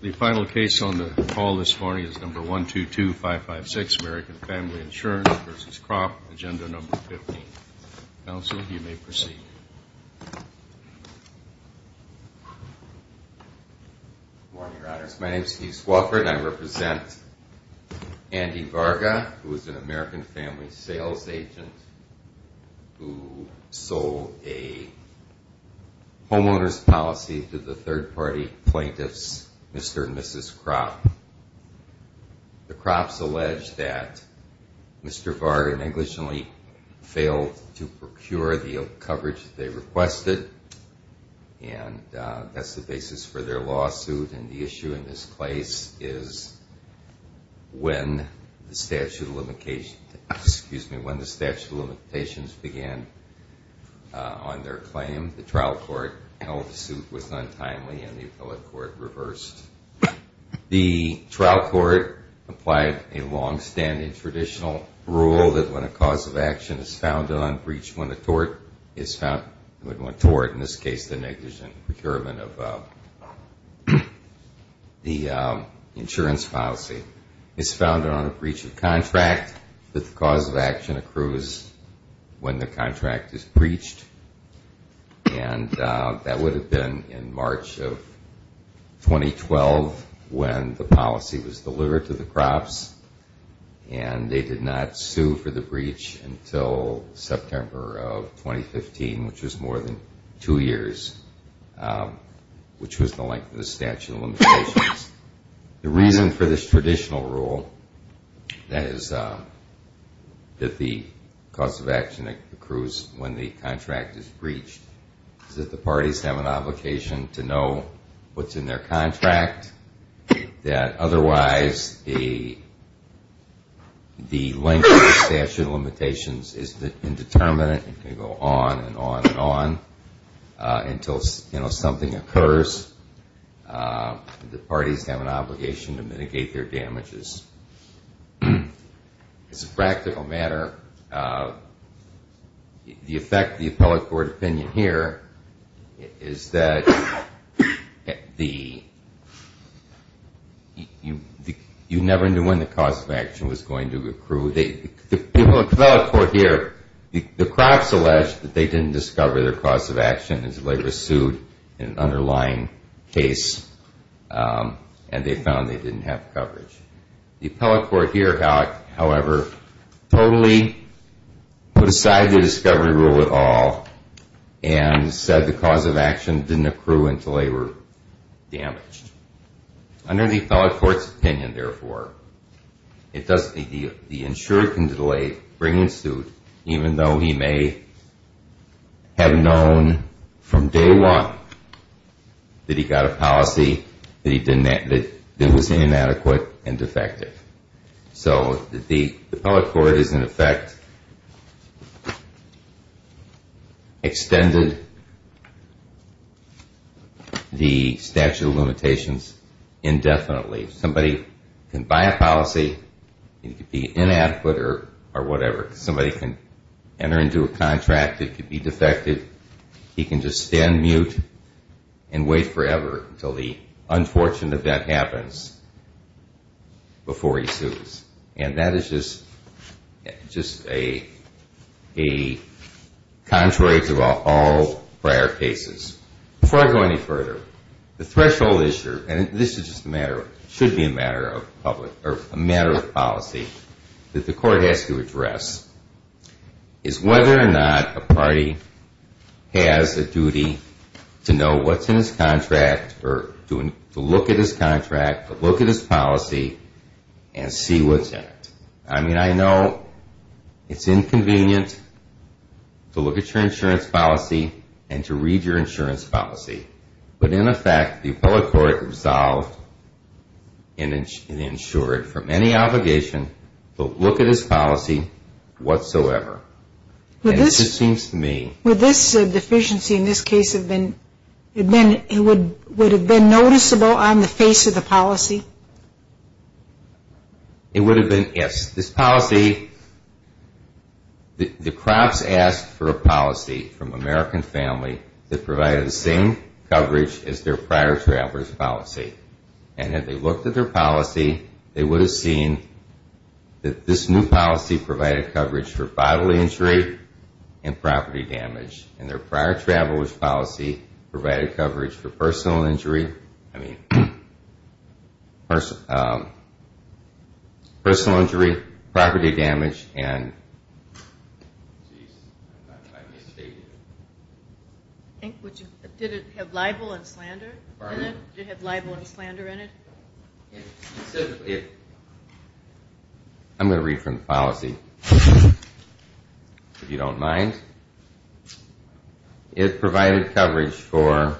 The final case on the call this morning is number 122556, American Family Insurance v. Krop, agenda number 15. Counsel, you may proceed. Good morning, Your Honors. My name is Keith Swofford, and I represent Andy Varga, who is an American Family Sales agent who sold a homeowner's policy to the third-party plaintiffs, Mr. and Mrs. Krop. The Krops allege that Mr. Varga negligently failed to procure the coverage that they requested, and that's the basis for their lawsuit, and the issue in this case is when the statute of limitations began on their claim. The trial court held the suit was untimely, and the appellate court reversed. The trial court applied a long-standing traditional rule that when a cause of action is found unbreached, when a tort is found, when a tort, in this case the negligent procurement of the insurance policy, is found on a breach of contract, that the cause of action accrues when the contract is breached, and that would have been in March of 2012 when the policy was delivered to the Krops, and they did not sue for the breach until September of 2015, which was more than two years, which was the length of the statute of limitations. The reason for this traditional rule, that is, that the cause of action accrues when the contract is breached, is that the parties have an obligation to know what's in their contract, that otherwise the length of the statute of limitations is indeterminate and can go on and on and on until something occurs. The parties have an obligation to mitigate their damages. As a practical matter, the effect of the appellate court opinion here is that you never knew when the cause of action was going to accrue. The appellate court here, the Krops alleged that they didn't discover their cause of action until they were sued in an underlying case, and they found they didn't have coverage. The appellate court here, however, totally put aside the discovery rule at all and said the cause of action didn't accrue until they were damaged. Under the appellate court's opinion, therefore, the insurer can delay bringing suit even though he may have known from day one that he got a policy that was inadequate and defective. So the appellate court has, in effect, extended the statute of limitations indefinitely. Somebody can buy a policy and it could be inadequate or whatever. Somebody can enter into a contract that could be defective. He can just stand mute and wait forever until the unfortunate event happens before he sues. And that is just contrary to all prior cases. Before I go any further, the threshold issue, and this should be a matter of policy, that the court has to address is whether or not a party has a duty to know what's in his contract or to look at his contract or look at his policy and see what's in it. I mean, I know it's inconvenient to look at your insurance policy and to read your insurance policy. But in effect, the appellate court resolved and insured from any obligation to look at his policy whatsoever. And it just seems to me... Would this deficiency in this case have been noticeable on the face of the policy? It would have been, yes. This policy... The crops asked for a policy from American Family that provided the same coverage as their prior traveler's policy. And if they looked at their policy, they would have seen that this new policy provided coverage for bodily injury and property damage. And their prior traveler's policy provided coverage for personal injury, property damage, and... Did it have libel and slander in it? Pardon? Did it have libel and slander in it? Specifically... I'm going to read from the policy, if you don't mind. It provided coverage for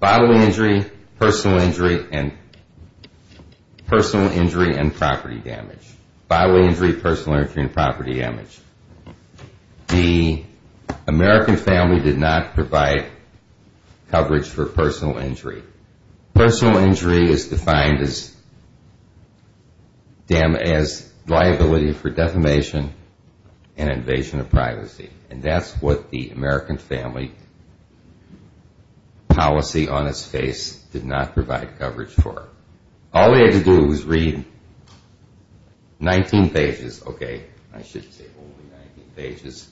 bodily injury, personal injury, and property damage. Bodily injury, personal injury, and property damage. The American Family did not provide coverage for personal injury. Personal injury is defined as liability for defamation and invasion of privacy. And that's what the American Family policy on its face did not provide coverage for. All they had to do was read 19 pages. Okay, I should say only 19 pages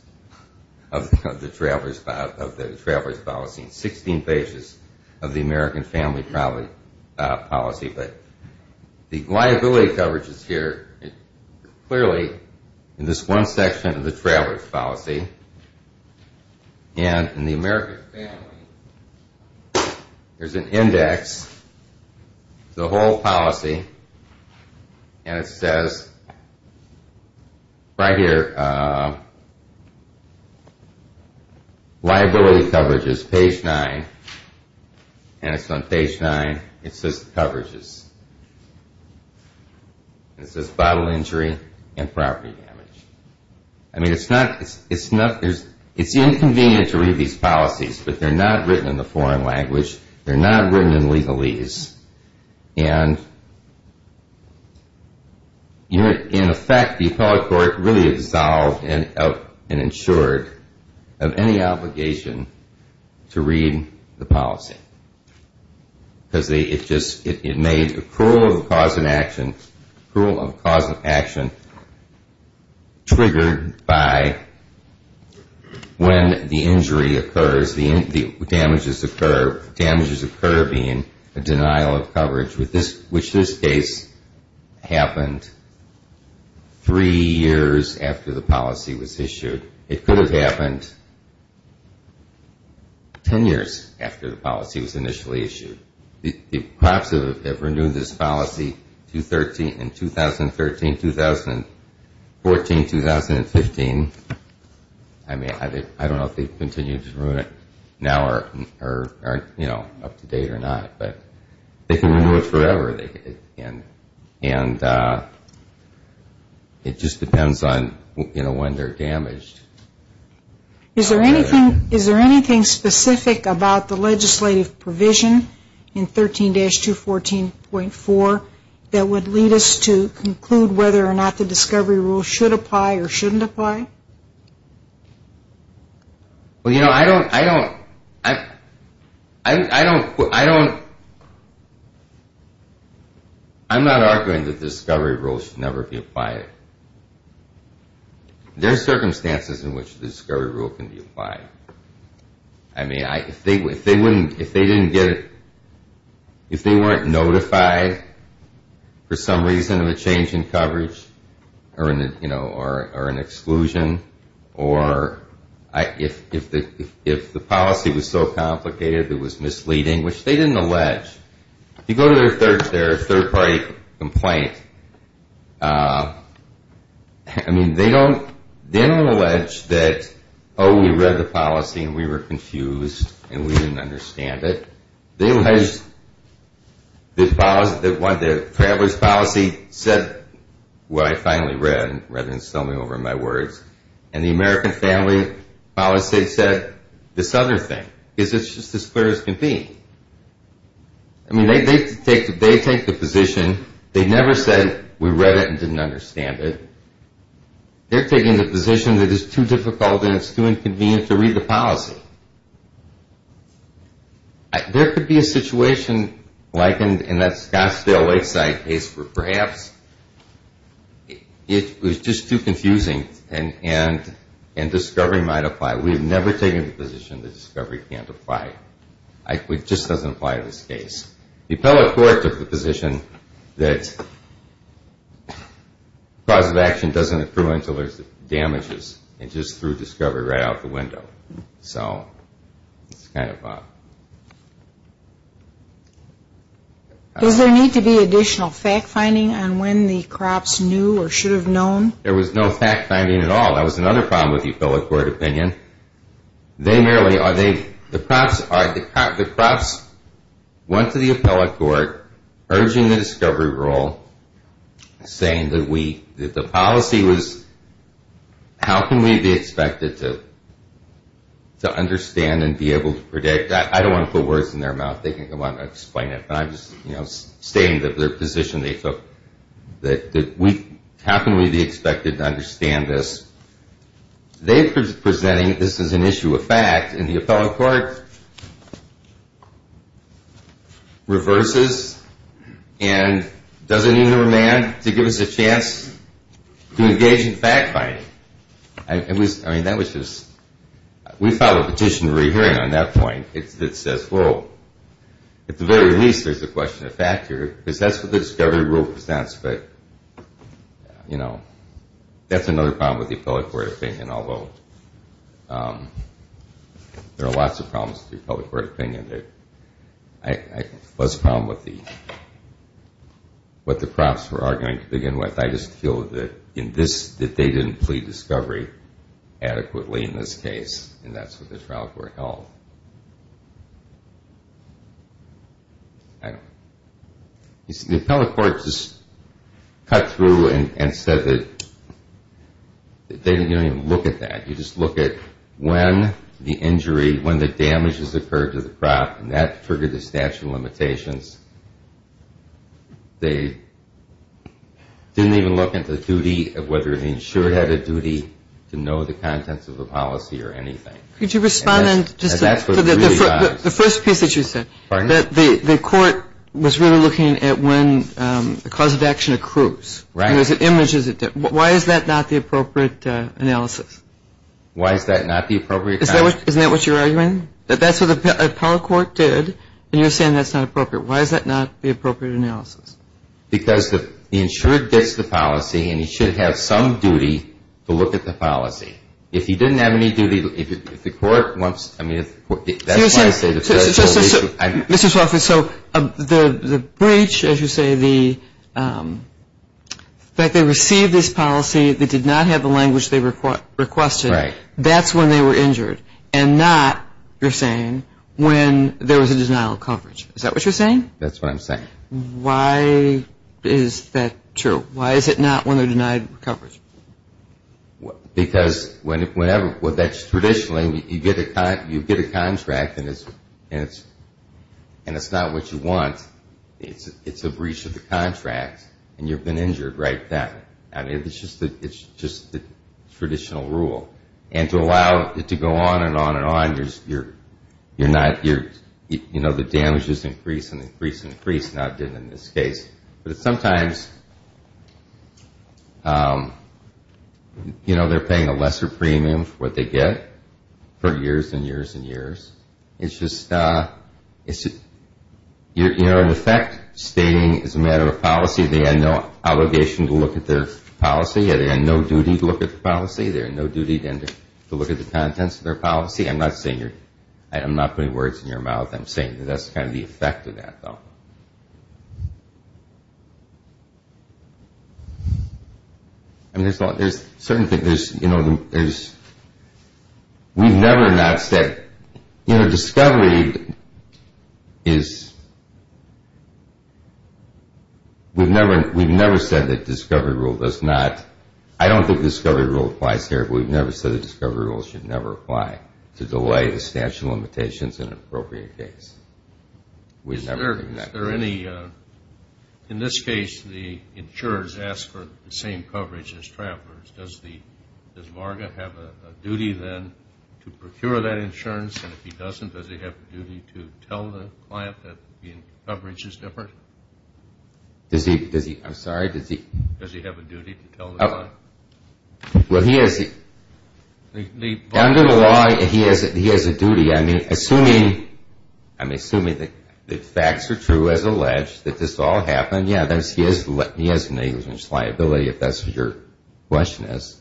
of the traveler's policy. 16 pages of the American Family policy. But the liability coverage is here, clearly, in this one section of the traveler's policy. And in the American Family, there's an index, the whole policy. And it says... Right here... Liability coverage is page 9. And it's on page 9. It says coverage is... It says bodily injury and property damage. I mean, it's not... It's inconvenient to read these policies, but they're not written in the foreign language. They're not written in legalese. And... In effect, the appellate court really dissolved and insured of any obligation to read the policy. Because it just... It made a cruel cause of action triggered by when the injury occurs, the damages occur. The damages occur being a denial of coverage, which this case happened three years after the policy was issued. It could have happened ten years after the policy was initially issued. The crops have renewed this policy in 2013, 2014, 2015. I mean, I don't know if they've continued to renew it now or, you know, up to date or not. But they can renew it forever. And it just depends on, you know, when they're damaged. Is there anything specific about the legislative provision in 13-214.4 that would lead us to conclude whether or not the discovery rule should apply or shouldn't apply? Well, you know, I don't... I don't... I'm not arguing that the discovery rule should never be applied. There are circumstances in which the discovery rule can be applied. I mean, if they didn't get... If they weren't notified for some reason of a change in coverage or an exclusion or if the policy was so complicated it was misleading, which they didn't allege. If you go to their third-party complaint, I mean, they don't allege that, oh, we read the policy and we were confused and we didn't understand it. They allege that the travelers' policy said what I finally read rather than sell me over my words and the American family policy said this other thing because it's just as clear as can be. I mean, they take the position. They never said we read it and didn't understand it. They're taking the position that it's too difficult and it's too inconvenient to read the policy. There could be a situation like in that Scottsdale Lakeside case where perhaps it was just too confusing and discovery might apply. We've never taken the position that discovery can't apply. It just doesn't apply in this case. The appellate court took the position that cause of action doesn't accrue until there's damages and just threw discovery right out the window. So it's kind of a... Does there need to be additional fact-finding on when the crops knew or should have known? There was no fact-finding at all. That was another problem with the appellate court opinion. They merely, the crops went to the appellate court urging the discovery rule, saying that the policy was... How can we be expected to understand and be able to predict? I don't want to put words in their mouth. They can go on and explain it, but I'm just stating their position. How can we be expected to understand this? They're presenting this as an issue of fact and the appellate court reverses and doesn't even remand to give us a chance to engage in fact-finding. I mean, that was just... We filed a petition in re-hearing on that point that says, well, at the very least there's a question of factor because that's what the discovery rule presents. But, you know, that's another problem with the appellate court opinion, although there are lots of problems with the appellate court opinion. I have less problem with what the crops were arguing to begin with. I just feel that they didn't plead discovery adequately in this case, and that's what the trial court held. I don't know. The appellate court just cut through and said that they didn't even look at that. You just look at when the injury, when the damage has occurred to the crop, and that triggered the statute of limitations. They didn't even look at the duty of whether the insured had a duty to know the contents of the policy or anything. Could you respond? The first piece that you said, that the court was really looking at when the cause of action accrues. Right. Why is that not the appropriate analysis? Why is that not the appropriate analysis? Isn't that what you're arguing? That's what the appellate court did, and you're saying that's not appropriate. Why is that not the appropriate analysis? Because the insured gets the policy, and he should have some duty to look at the policy. If he didn't have any duty, if the court wants, I mean, that's why I say the federal issue. Mr. Swofford, so the breach, as you say, the fact they received this policy, they did not have the language they requested, that's when they were injured, and not, you're saying, when there was a denial of coverage. Is that what you're saying? That's what I'm saying. Why is that true? Why is it not when they're denied coverage? Because when that's traditionally, you get a contract, and it's not what you want. It's a breach of the contract, and you've been injured right then. I mean, it's just the traditional rule. And to allow it to go on and on and on, you're not, you know, the damages increase and increase and increase, not in this case. But sometimes, you know, they're paying a lesser premium for what they get for years and years and years. It's just, you know, in effect, stating it's a matter of policy, they had no obligation to look at their policy, they had no duty to look at the policy, they had no duty to look at the contents of their policy. I'm not putting words in your mouth. I'm saying that that's kind of the effect of that, though. I mean, there's certain things, you know, there's, we've never not said, you know, discovery is, we've never said that discovery rule does not, I don't think discovery rule applies here, but we've never said that discovery rule should never apply to delay the statute of limitations in an appropriate case. We've never done that. In this case, the insurers ask for the same coverage as travelers. Does Marga have a duty then to procure that insurance? And if he doesn't, does he have a duty to tell the client that the coverage is different? I'm sorry, does he? Does he have a duty to tell the client? Well, he has, under the law, he has a duty. I mean, assuming, I'm assuming that the facts are true as alleged, that this all happened, yeah, he has negligence liability, if that's what your question is.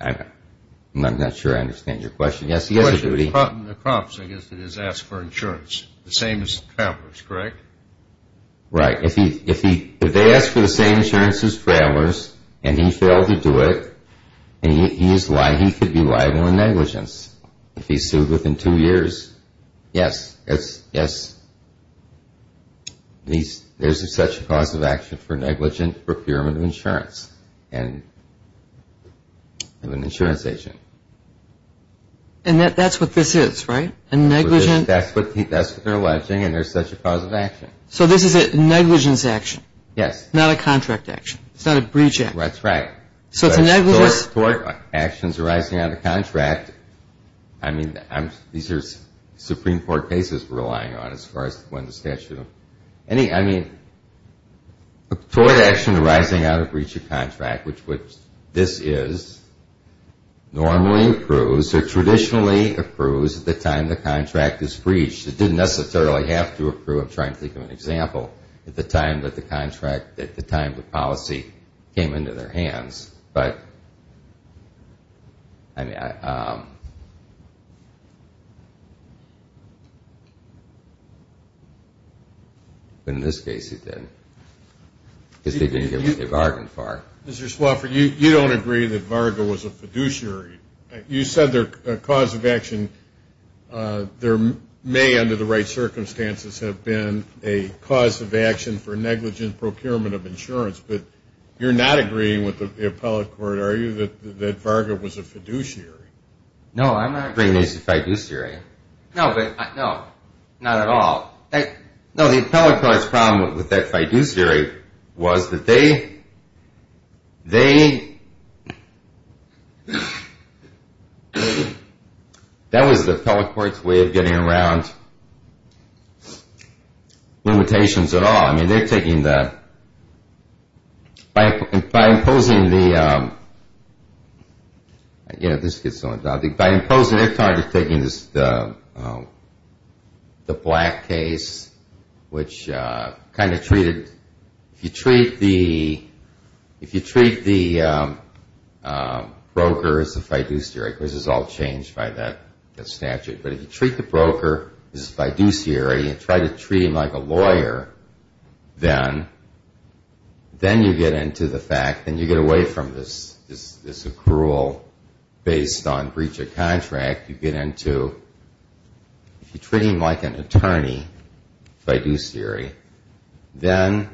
I'm not sure I understand your question. Yes, he has a duty. The crops, I guess, that he's asked for insurance, the same as travelers, correct? Right. If they ask for the same insurance as travelers, and he failed to do it, he could be liable in negligence. If he's sued within two years, yes. There's such a cause of action for negligent procurement of insurance of an insurance agent. And that's what this is, right? That's what they're alleging, and there's such a cause of action. So this is a negligence action? Yes. Not a contract action? It's not a breach action? That's right. So it's a negligence? Toward actions arising out of contract, I mean, these are Supreme Court cases we're relying on, as far as when the statute of any, I mean, toward action arising out of breach of contract, which this is, normally approves or traditionally approves at the time the contract is breached. It didn't necessarily have to approve. I'm trying to think of an example at the time that the contract, at the time the policy came into their hands. But, I mean, in this case it did, because they didn't get what they bargained for. Mr. Swofford, you don't agree that Varga was a fiduciary. You said their cause of action may, under the right circumstances, have been a cause of action for negligent procurement of insurance. But you're not agreeing with the appellate court, are you, that Varga was a fiduciary? No, I'm not agreeing it's a fiduciary. No, not at all. No, the appellate court's problem with that fiduciary was that they, that was the appellate court's way of getting around limitations at all. No, I mean, they're taking the, by imposing the, you know, this gets on, by imposing, they're taking the Black case, which kind of treated, if you treat the broker as a fiduciary, because it's all changed by that statute, but if you treat the broker as a fiduciary and try to treat him like a lawyer, then you get into the fact, then you get away from this accrual based on breach of contract. You get into, if you treat him like an attorney, fiduciary, then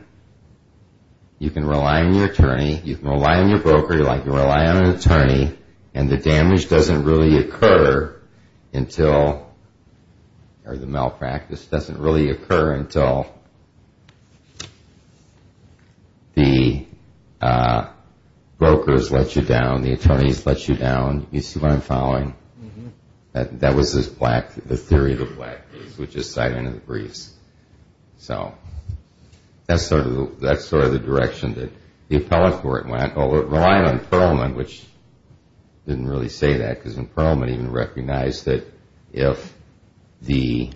you can rely on your attorney, you can rely on your broker, you can rely on an attorney and the damage doesn't really occur until, or the malpractice doesn't really occur until the brokers let you down, the attorneys let you down, you see what I'm following? That was this Black, the theory of the Black case, which is siding with the briefs. So, that's sort of the direction that the appellate court went. It relied on Pearlman, which didn't really say that, because Pearlman even recognized that if the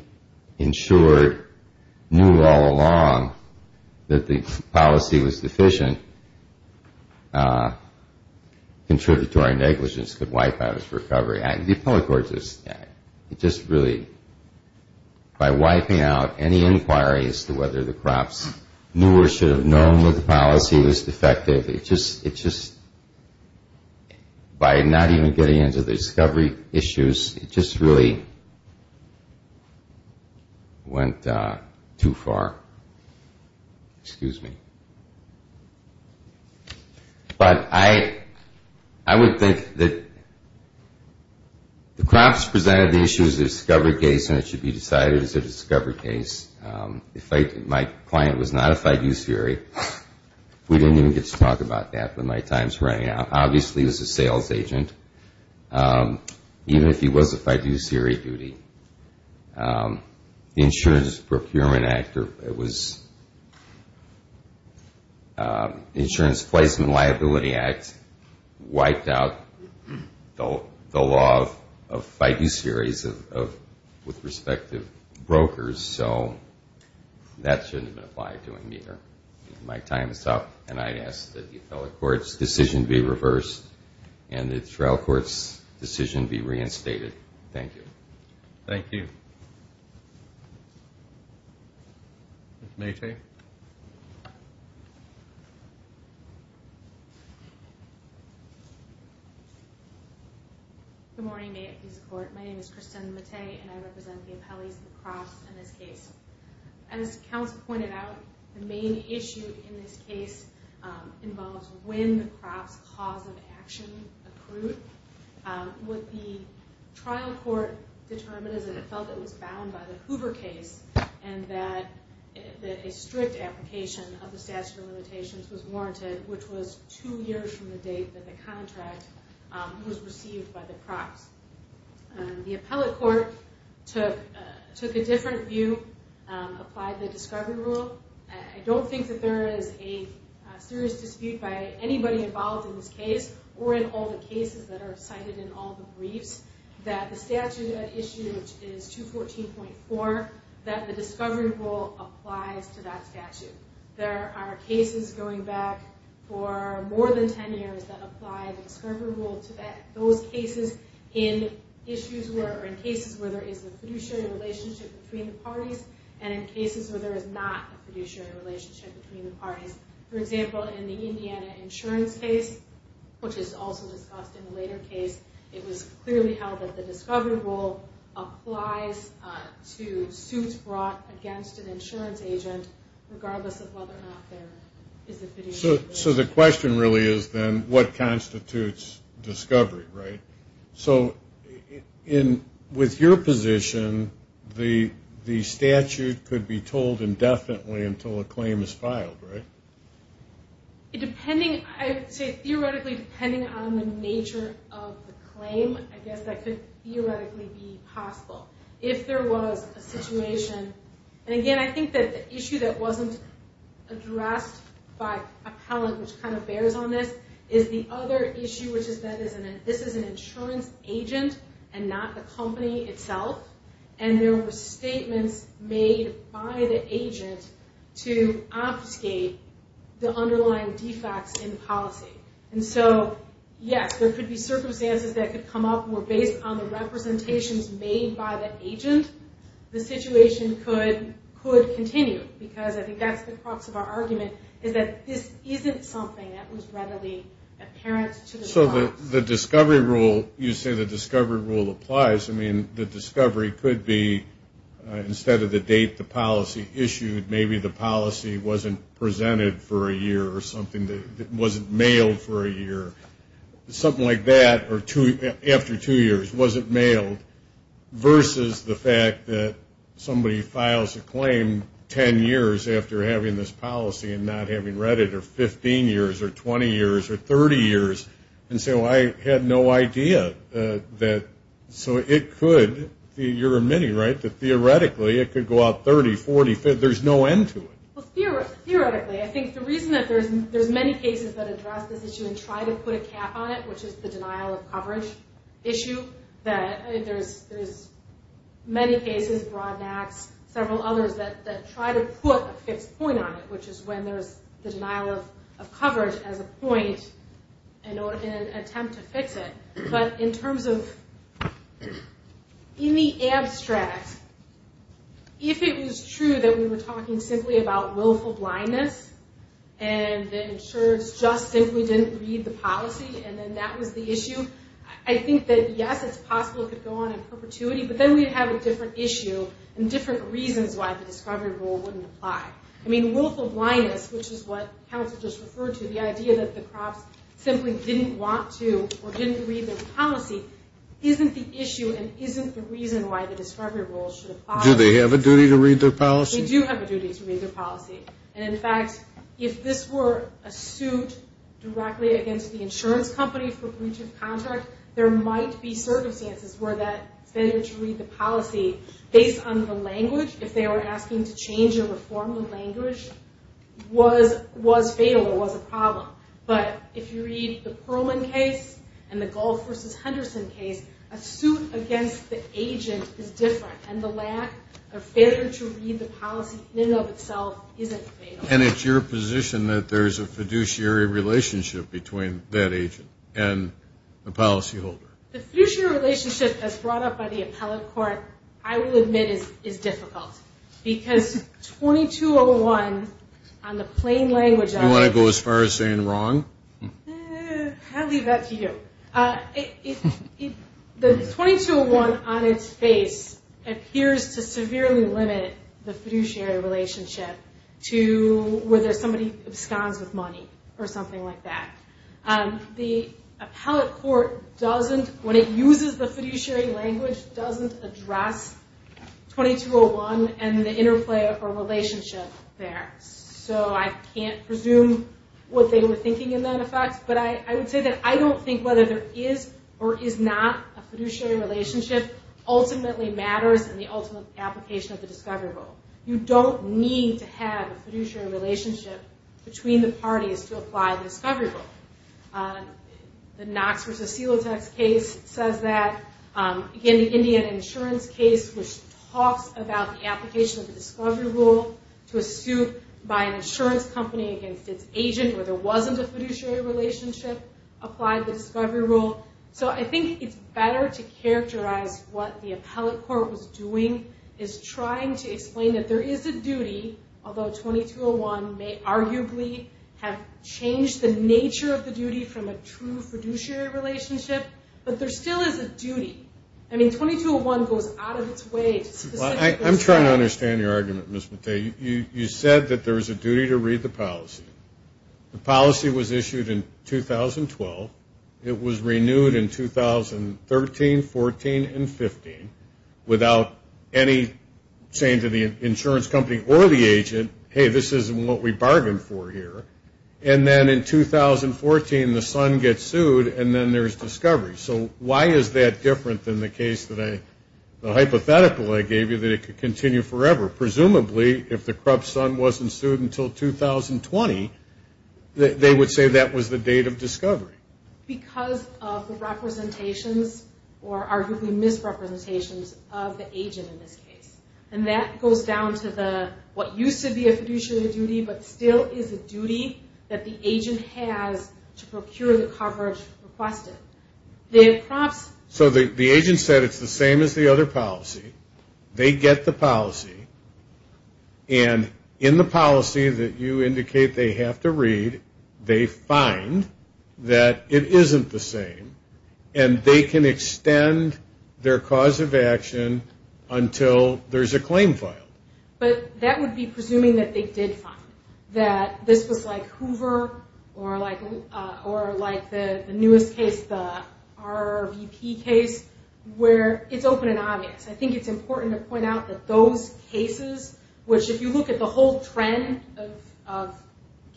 insured knew all along that the policy was deficient, contributory negligence could wipe out its recovery. The appellate court just really, by wiping out any inquiry as to whether the crops knew or should have known that the policy was defective, it just, by not even getting into the discovery issues, it just really went too far. Excuse me. But I would think that the crops presented the issue as a discovery case and it should be decided as a discovery case. My client was not a five-use theory. We didn't even get to talk about that, but my time is running out. Obviously, he was a sales agent, even if he was a five-use theory duty. The Insurance Procurement Act, or it was the Insurance Placement Liability Act, wiped out the law of five-use theories with respective brokers, so that shouldn't have been applied to him either. My time is up, and I ask that the appellate court's decision be reversed and the trial court's decision be reinstated. Thank you. Thank you. Ms. Matei. Good morning, Mayor and Chief of Court. My name is Kristen Matei, and I represent the appellees of the crops in this case. As the counsel pointed out, the main issue in this case involves when the crops' cause of action accrued. What the trial court determined is that it felt it was bound by the Hoover case and that a strict application of the statute of limitations was warranted, which was two years from the date that the contract was received by the crops. The appellate court took a different view, applied the discovery rule. I don't think that there is a serious dispute by anybody involved in this case or in all the cases that are cited in all the briefs that the statute issued, which is 214.4, that the discovery rule applies to that statute. There are cases going back for more than 10 years that apply the discovery rule to those cases in cases where there is a fiduciary relationship between the parties and in cases where there is not a fiduciary relationship between the parties. For example, in the Indiana insurance case, which is also discussed in a later case, it was clearly held that the discovery rule applies to suits brought against an insurance agent regardless of whether or not there is a fiduciary relationship. So the question really is then what constitutes discovery, right? So with your position, the statute could be told indefinitely until a claim is filed, right? Depending, I would say theoretically depending on the nature of the claim, I guess that could theoretically be possible. If there was a situation, and again, I think that the issue that wasn't addressed by appellate, which kind of bears on this, is the other issue which is that this is an insurance agent and not the company itself, and there were statements made by the agent to obfuscate the underlying defects in policy. And so, yes, there could be circumstances that could come up where based on the representations made by the agent, the situation could continue because I think that's the crux of our argument, is that this isn't something that was readily apparent to the client. So the discovery rule, you say the discovery rule applies. I mean, the discovery could be instead of the date the policy issued, maybe the policy wasn't presented for a year or something, wasn't mailed for a year. Something like that, or after two years, wasn't mailed, versus the fact that somebody files a claim 10 years after having this policy and not having read it, or 15 years, or 20 years, or 30 years, and so I had no idea that so it could, you're admitting, right, that theoretically it could go out 30, 40, 50, there's no end to it. Well, theoretically, I think the reason that there's many cases that address this issue and try to put a cap on it, which is the denial of coverage issue, that there's many cases, Broadnax, several others, that try to put a fixed point on it, which is when there's the denial of coverage as a point in an attempt to fix it. But in terms of, in the abstract, if it was true that we were talking simply about willful blindness and the insurers just simply didn't read the policy and then that was the issue, I think that, yes, it's possible it could go on in perpetuity, but then we'd have a different issue and different reasons why the discovery rule wouldn't apply. I mean, willful blindness, which is what counsel just referred to, the idea that the crops simply didn't want to or didn't read their policy, isn't the issue and isn't the reason why the discovery rule should apply. Do they have a duty to read their policy? They do have a duty to read their policy. And, in fact, if this were a suit directly against the insurance company for breach of contract, there might be circumstances where that failure to read the policy, based on the language, if they were asking to change or reform the language, was fatal or was a problem. But if you read the Perlman case and the Gulf v. Henderson case, a suit against the agent is different, and the lack of failure to read the policy in and of itself isn't fatal. And it's your position that there's a fiduciary relationship between that agent and the policyholder? The fiduciary relationship, as brought up by the appellate court, I will admit is difficult, because 2201 on the plain language of it. You want to go as far as saying wrong? I'll leave that to you. The 2201 on its face appears to severely limit the fiduciary relationship to whether somebody absconds with money or something like that. The appellate court doesn't, when it uses the fiduciary language, doesn't address 2201 and the interplay or relationship there. So I can't presume what they were thinking in that effect, but I would say that I don't think whether there is or is not a fiduciary relationship ultimately matters in the ultimate application of the discovery rule. You don't need to have a fiduciary relationship between the parties to apply the discovery rule. The Knox v. Silotek case says that. Again, the Indiana insurance case, which talks about the application of the discovery rule to a suit by an insurance company against its agent where there wasn't a fiduciary relationship, applied the discovery rule. So I think it's better to characterize what the appellate court was doing, is trying to explain that there is a duty, although 2201 may arguably have changed the nature of the duty from a true fiduciary relationship, but there still is a duty. I mean, 2201 goes out of its way to specifically say that. I'm trying to understand your argument, Ms. Mattei. You said that there is a duty to read the policy. The policy was issued in 2012. It was renewed in 2013, 14, and 15 without any saying to the insurance company or the agent, hey, this isn't what we bargained for here. And then in 2014, the son gets sued, and then there's discovery. So why is that different than the hypothetical I gave you that it could continue forever? Presumably, if the corrupt son wasn't sued until 2020, they would say that was the date of discovery. Because of the representations or arguably misrepresentations of the agent in this case. And that goes down to what used to be a fiduciary duty, but still is a duty that the agent has to procure the coverage requested. So the agent said it's the same as the other policy. They get the policy. And in the policy that you indicate they have to read, they find that it isn't the same. And they can extend their cause of action until there's a claim filed. But that would be presuming that they did find that this was like Hoover or like the newest case, the RVP case, where it's open and obvious. I think it's important to point out that those cases, which if you look at the whole trend of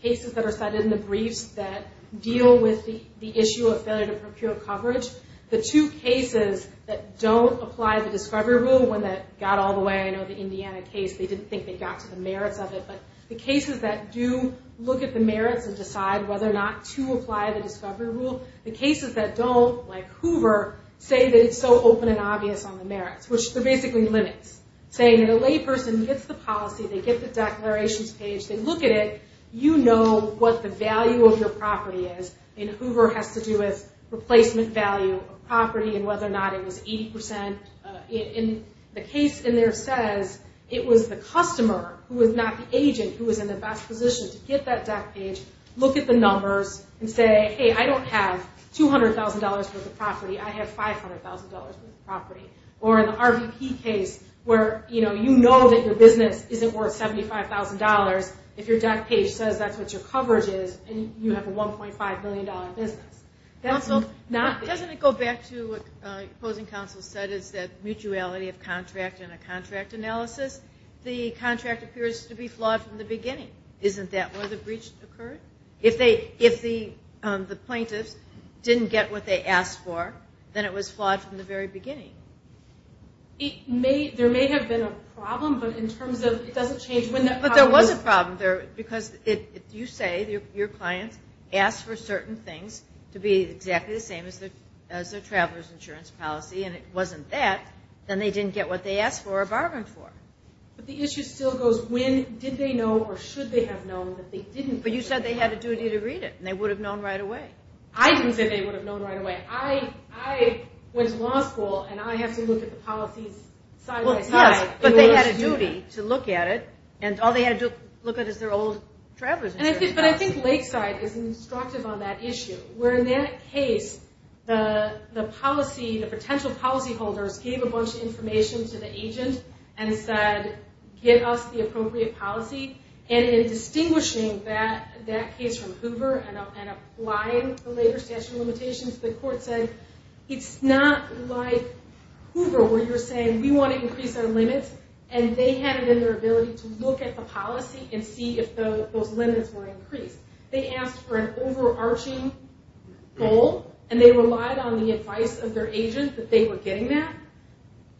cases that are cited in the briefs that deal with the issue of failure to procure coverage, the two cases that don't apply the discovery rule, one that got all the way, I know the Indiana case, they didn't think they got to the merits of it. But the cases that do look at the merits and decide whether or not to apply the discovery rule, the cases that don't, like Hoover, say that it's so open and obvious on the merits, which they're basically limits. Saying that a layperson gets the policy, they get the declarations page, they look at it, you know what the value of your property is. And Hoover has to do with replacement value of property and whether or not it was 80%. And the case in there says it was the customer who was not the agent who was in the best position to get that deck page, look at the numbers, and say, hey, I don't have $200,000 worth of property, I have $500,000 worth of property. Or in the RVP case, where you know that your business isn't worth $75,000, if your deck page says that's what your coverage is, and you have a $1.5 million business. Doesn't it go back to what opposing counsel said, is that mutuality of contract and a contract analysis? The contract appears to be flawed from the beginning. Isn't that where the breach occurred? If the plaintiffs didn't get what they asked for, then it was flawed from the very beginning. There may have been a problem, but in terms of, it doesn't change when that problem occurred. But there was a problem, because if you say your client asked for certain things to be exactly the same as their traveler's insurance policy, and it wasn't that, then they didn't get what they asked for or bargained for. But the issue still goes, when did they know or should they have known that they didn't? But you said they had a duty to read it, and they would have known right away. I didn't say they would have known right away. I went to law school, and I have to look at the policies side by side. But they had a duty to look at it, and all they had to look at is their old traveler's insurance policy. But I think Lakeside is instructive on that issue. Where in that case, the potential policyholders gave a bunch of information to the agent and said, get us the appropriate policy. And in distinguishing that case from Hoover and applying the later statute of limitations, the court said, it's not like Hoover, where you're saying, we want to increase our limits. And they had it in their ability to look at the policy and see if those limits were increased. They asked for an overarching goal, and they relied on the advice of their agent that they were getting that.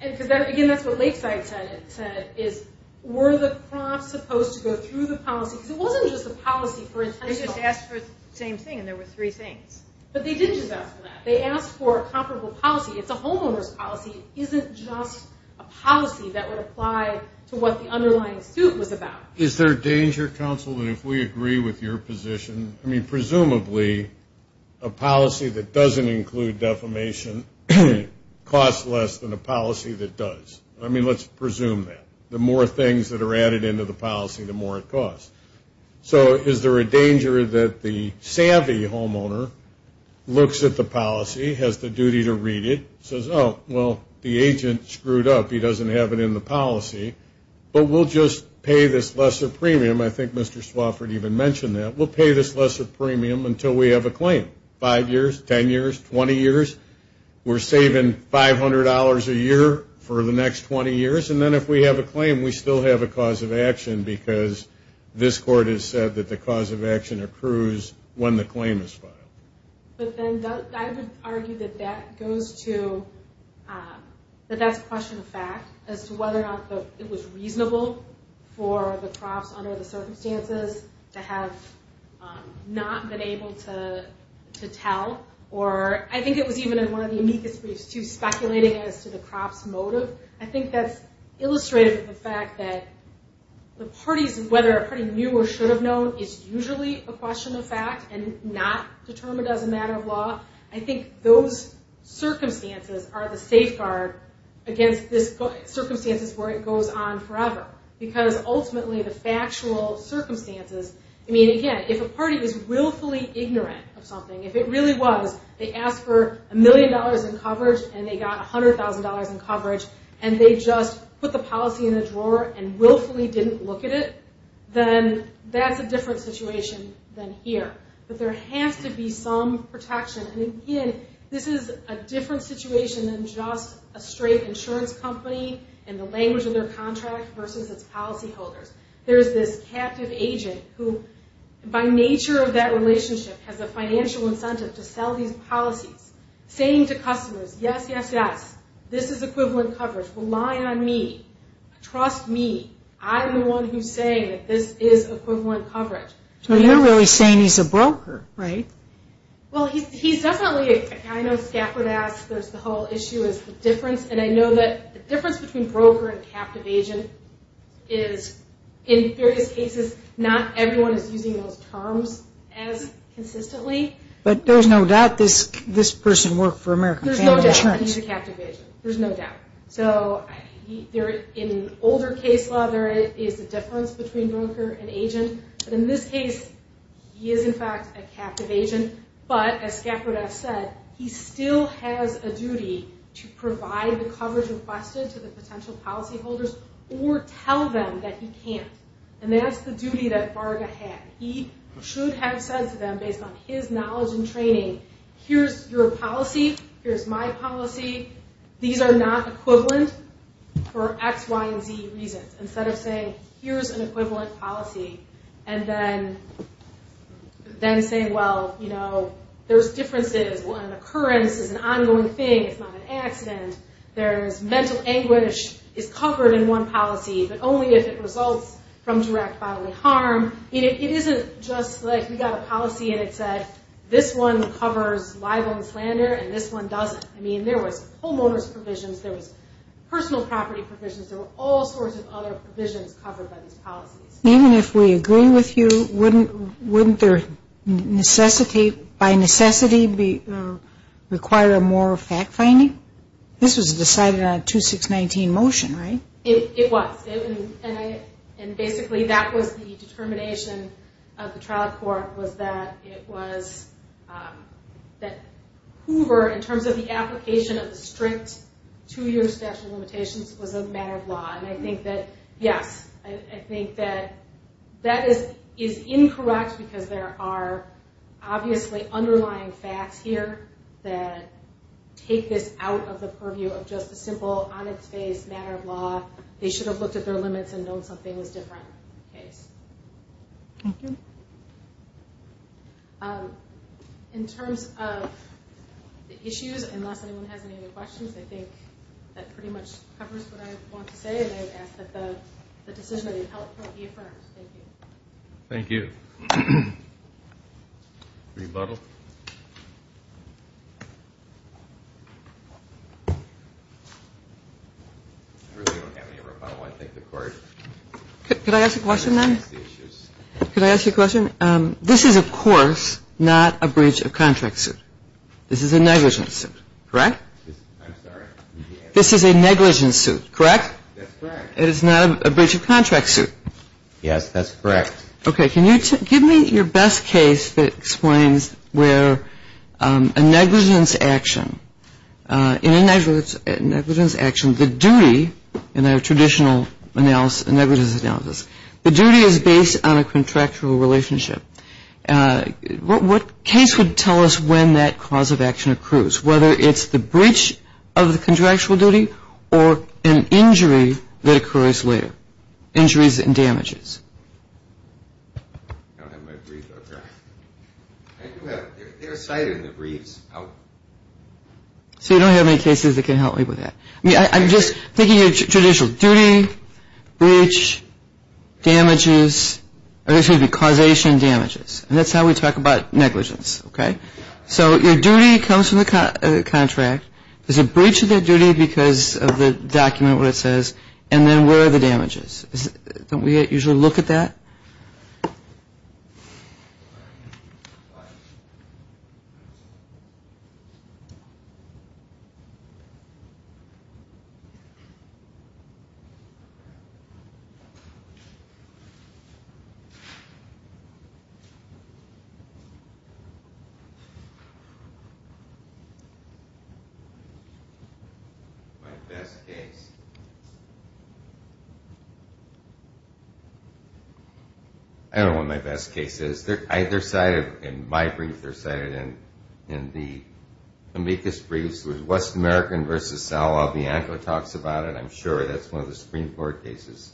Because, again, that's what Lakeside said is, were the prompts supposed to go through the policy? Because it wasn't just a policy for instance. They just asked for the same thing, and there were three things. But they didn't just ask for that. They asked for a comparable policy. It's a homeowner's policy. It isn't just a policy that would apply to what the underlying suit was about. Is there a danger, counsel, that if we agree with your position, I mean, presumably, a policy that doesn't include defamation costs less than a policy that does. I mean, let's presume that. The more things that are added into the policy, the more it costs. So is there a danger that the savvy homeowner looks at the policy, has the duty to read it, says, oh, well, the agent screwed up. He doesn't have it in the policy. But we'll just pay this lesser premium. I think Mr. Swofford even mentioned that. We'll pay this lesser premium until we have a claim. Five years, 10 years, 20 years. We're saving $500 a year for the next 20 years. And then if we have a claim, we still have a cause of action because this court has said that the cause of action accrues when the claim is filed. But then I would argue that that goes to, that that's a question of fact, as to whether or not it was reasonable for the crops under the circumstances to have not been able to tell. Or I think it was even in one of the amicus briefs, too, speculating as to the crop's motive. I think that's illustrative of the fact that the parties, whether a party knew or should have known, is usually a question of fact and not determined as a matter of law. I think those circumstances are the safeguard against this circumstances where it goes on forever. Because ultimately the factual circumstances, I mean, again, if a party is willfully ignorant of something, if it really was they asked for a million dollars in coverage and they got $100,000 in coverage and they just put the policy in the drawer and willfully didn't look at it, then that's a different situation than here. But there has to be some protection. And again, this is a different situation than just a straight insurance company and the language of their contract versus its policyholders. There's this captive agent who, by nature of that relationship, has a financial incentive to sell these policies, saying to customers, yes, yes, yes, this is equivalent coverage. Rely on me. Trust me. I'm the one who's saying that this is equivalent coverage. So you're really saying he's a broker, right? Well, he's definitely a kind of scapegoat. The whole issue is the difference. And I know that the difference between broker and captive agent is, in various cases, not everyone is using those terms as consistently. But there's no doubt this person worked for American Family Insurance. There's no doubt he's a captive agent. There's no doubt. So in older case law, there is a difference between broker and agent. But in this case, he is, in fact, a captive agent. But as Skaffrodas said, he still has a duty to provide the coverage requested to the potential policyholders or tell them that he can't. And that's the duty that Varga had. He should have said to them, based on his knowledge and training, here's your policy, here's my policy, these are not equivalent for X, Y, and Z reasons. Instead of saying, here's an equivalent policy, and then saying, well, you know, there's differences. An occurrence is an ongoing thing. It's not an accident. Mental anguish is covered in one policy, but only if it results from direct bodily harm. It isn't just like we got a policy and it said, this one covers libel and slander and this one doesn't. I mean, there was homeowner's provisions. There was personal property provisions. There were all sorts of other provisions covered by these policies. Even if we agree with you, wouldn't there, by necessity, require a more fact-finding? This was decided on a 2619 motion, right? It was. And basically, that was the determination of the trial court, was that Hoover, in terms of the application of the strict two-year statute of limitations, was a matter of law. And I think that, yes, I think that that is incorrect because there are obviously underlying facts here that take this out of the purview of just a simple, on-its-face matter of law. They should have looked at their limits and known something was different. Thank you. In terms of the issues, unless anyone has any other questions, I think that pretty much covers what I want to say. And I would ask that the decision that you've helped fill be affirmed. Thank you. Thank you. Rebuttal? I really don't have any rebuttal. I thank the court. Could I ask a question, then? Could I ask you a question? This is, of course, not a breach of contract suit. This is a negligence suit, correct? I'm sorry? This is a negligence suit, correct? That's correct. It is not a breach of contract suit. Yes, that's correct. Okay, can you give me your best case that explains where a negligence action, in a negligence action, the duty, in a traditional negligence analysis, the duty is based on a contractual relationship. What case would tell us when that cause of action occurs, whether it's the breach of the contractual duty or an injury that occurs later, injuries and damages? I don't have my brief out there. I do have it. They're cited in the briefs. So you don't have any cases that can help me with that. I'm just thinking of traditional duty, breach, damages, or this would be causation and damages. And that's how we talk about negligence, okay? So your duty comes from the contract. Is it breach of that duty because of the document, what it says? And then where are the damages? Don't we usually look at that? All right. My best case. I don't know what my best case is. They're cited in my brief. They're cited in the amicus briefs. It was West American v. Sal Albianco talks about it. I'm sure that's one of the Supreme Court cases,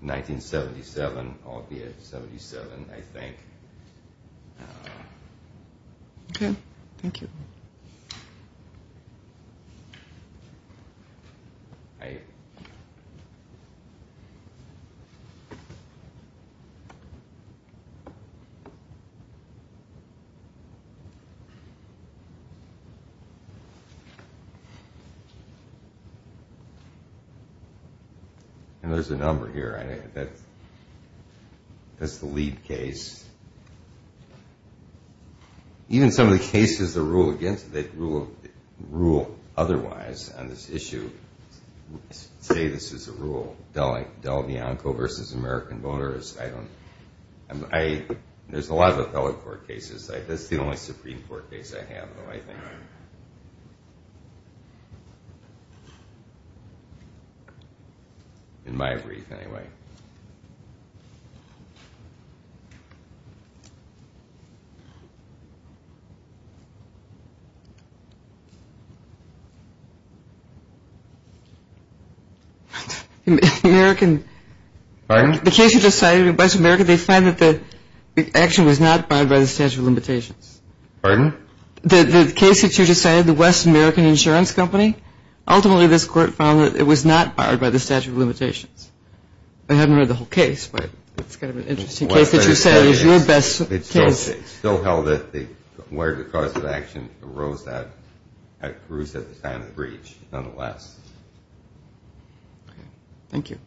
1977, Albianco 77, I think. Okay. Thank you. All right. And there's a number here. That's the lead case. Even some of the cases that rule otherwise on this issue say this is a rule. Del Bianco v. American voters. There's a lot of appellate court cases. That's the only Supreme Court case I have, though, I think. In my brief, anyway. American. Pardon? The case you just cited, West American, the action was not barred by the statute of limitations. Pardon? The case that you just cited, the West American Insurance Company, ultimately this court found that it was not barred by the statute of limitations. I haven't read the whole case, but it's kind of an interesting case that you cited. It's your best case. It's still held that the cause of action arose at Cruz at the time of the breach, nonetheless. Okay. Thank you.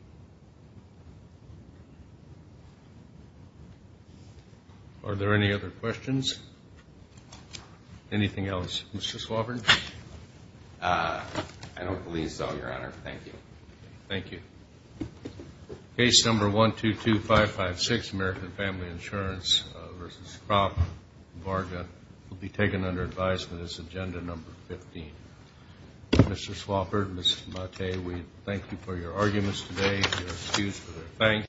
Are there any other questions? Anything else? Mr. Swafford? I don't believe so, Your Honor. Thank you. Thank you. Case number 122556, American Family Insurance v. Kropp, Varga, will be taken under advice for this agenda number 15. Mr. Swafford, Mr. Mattei, we thank you for your arguments today, your excuse for your thanks.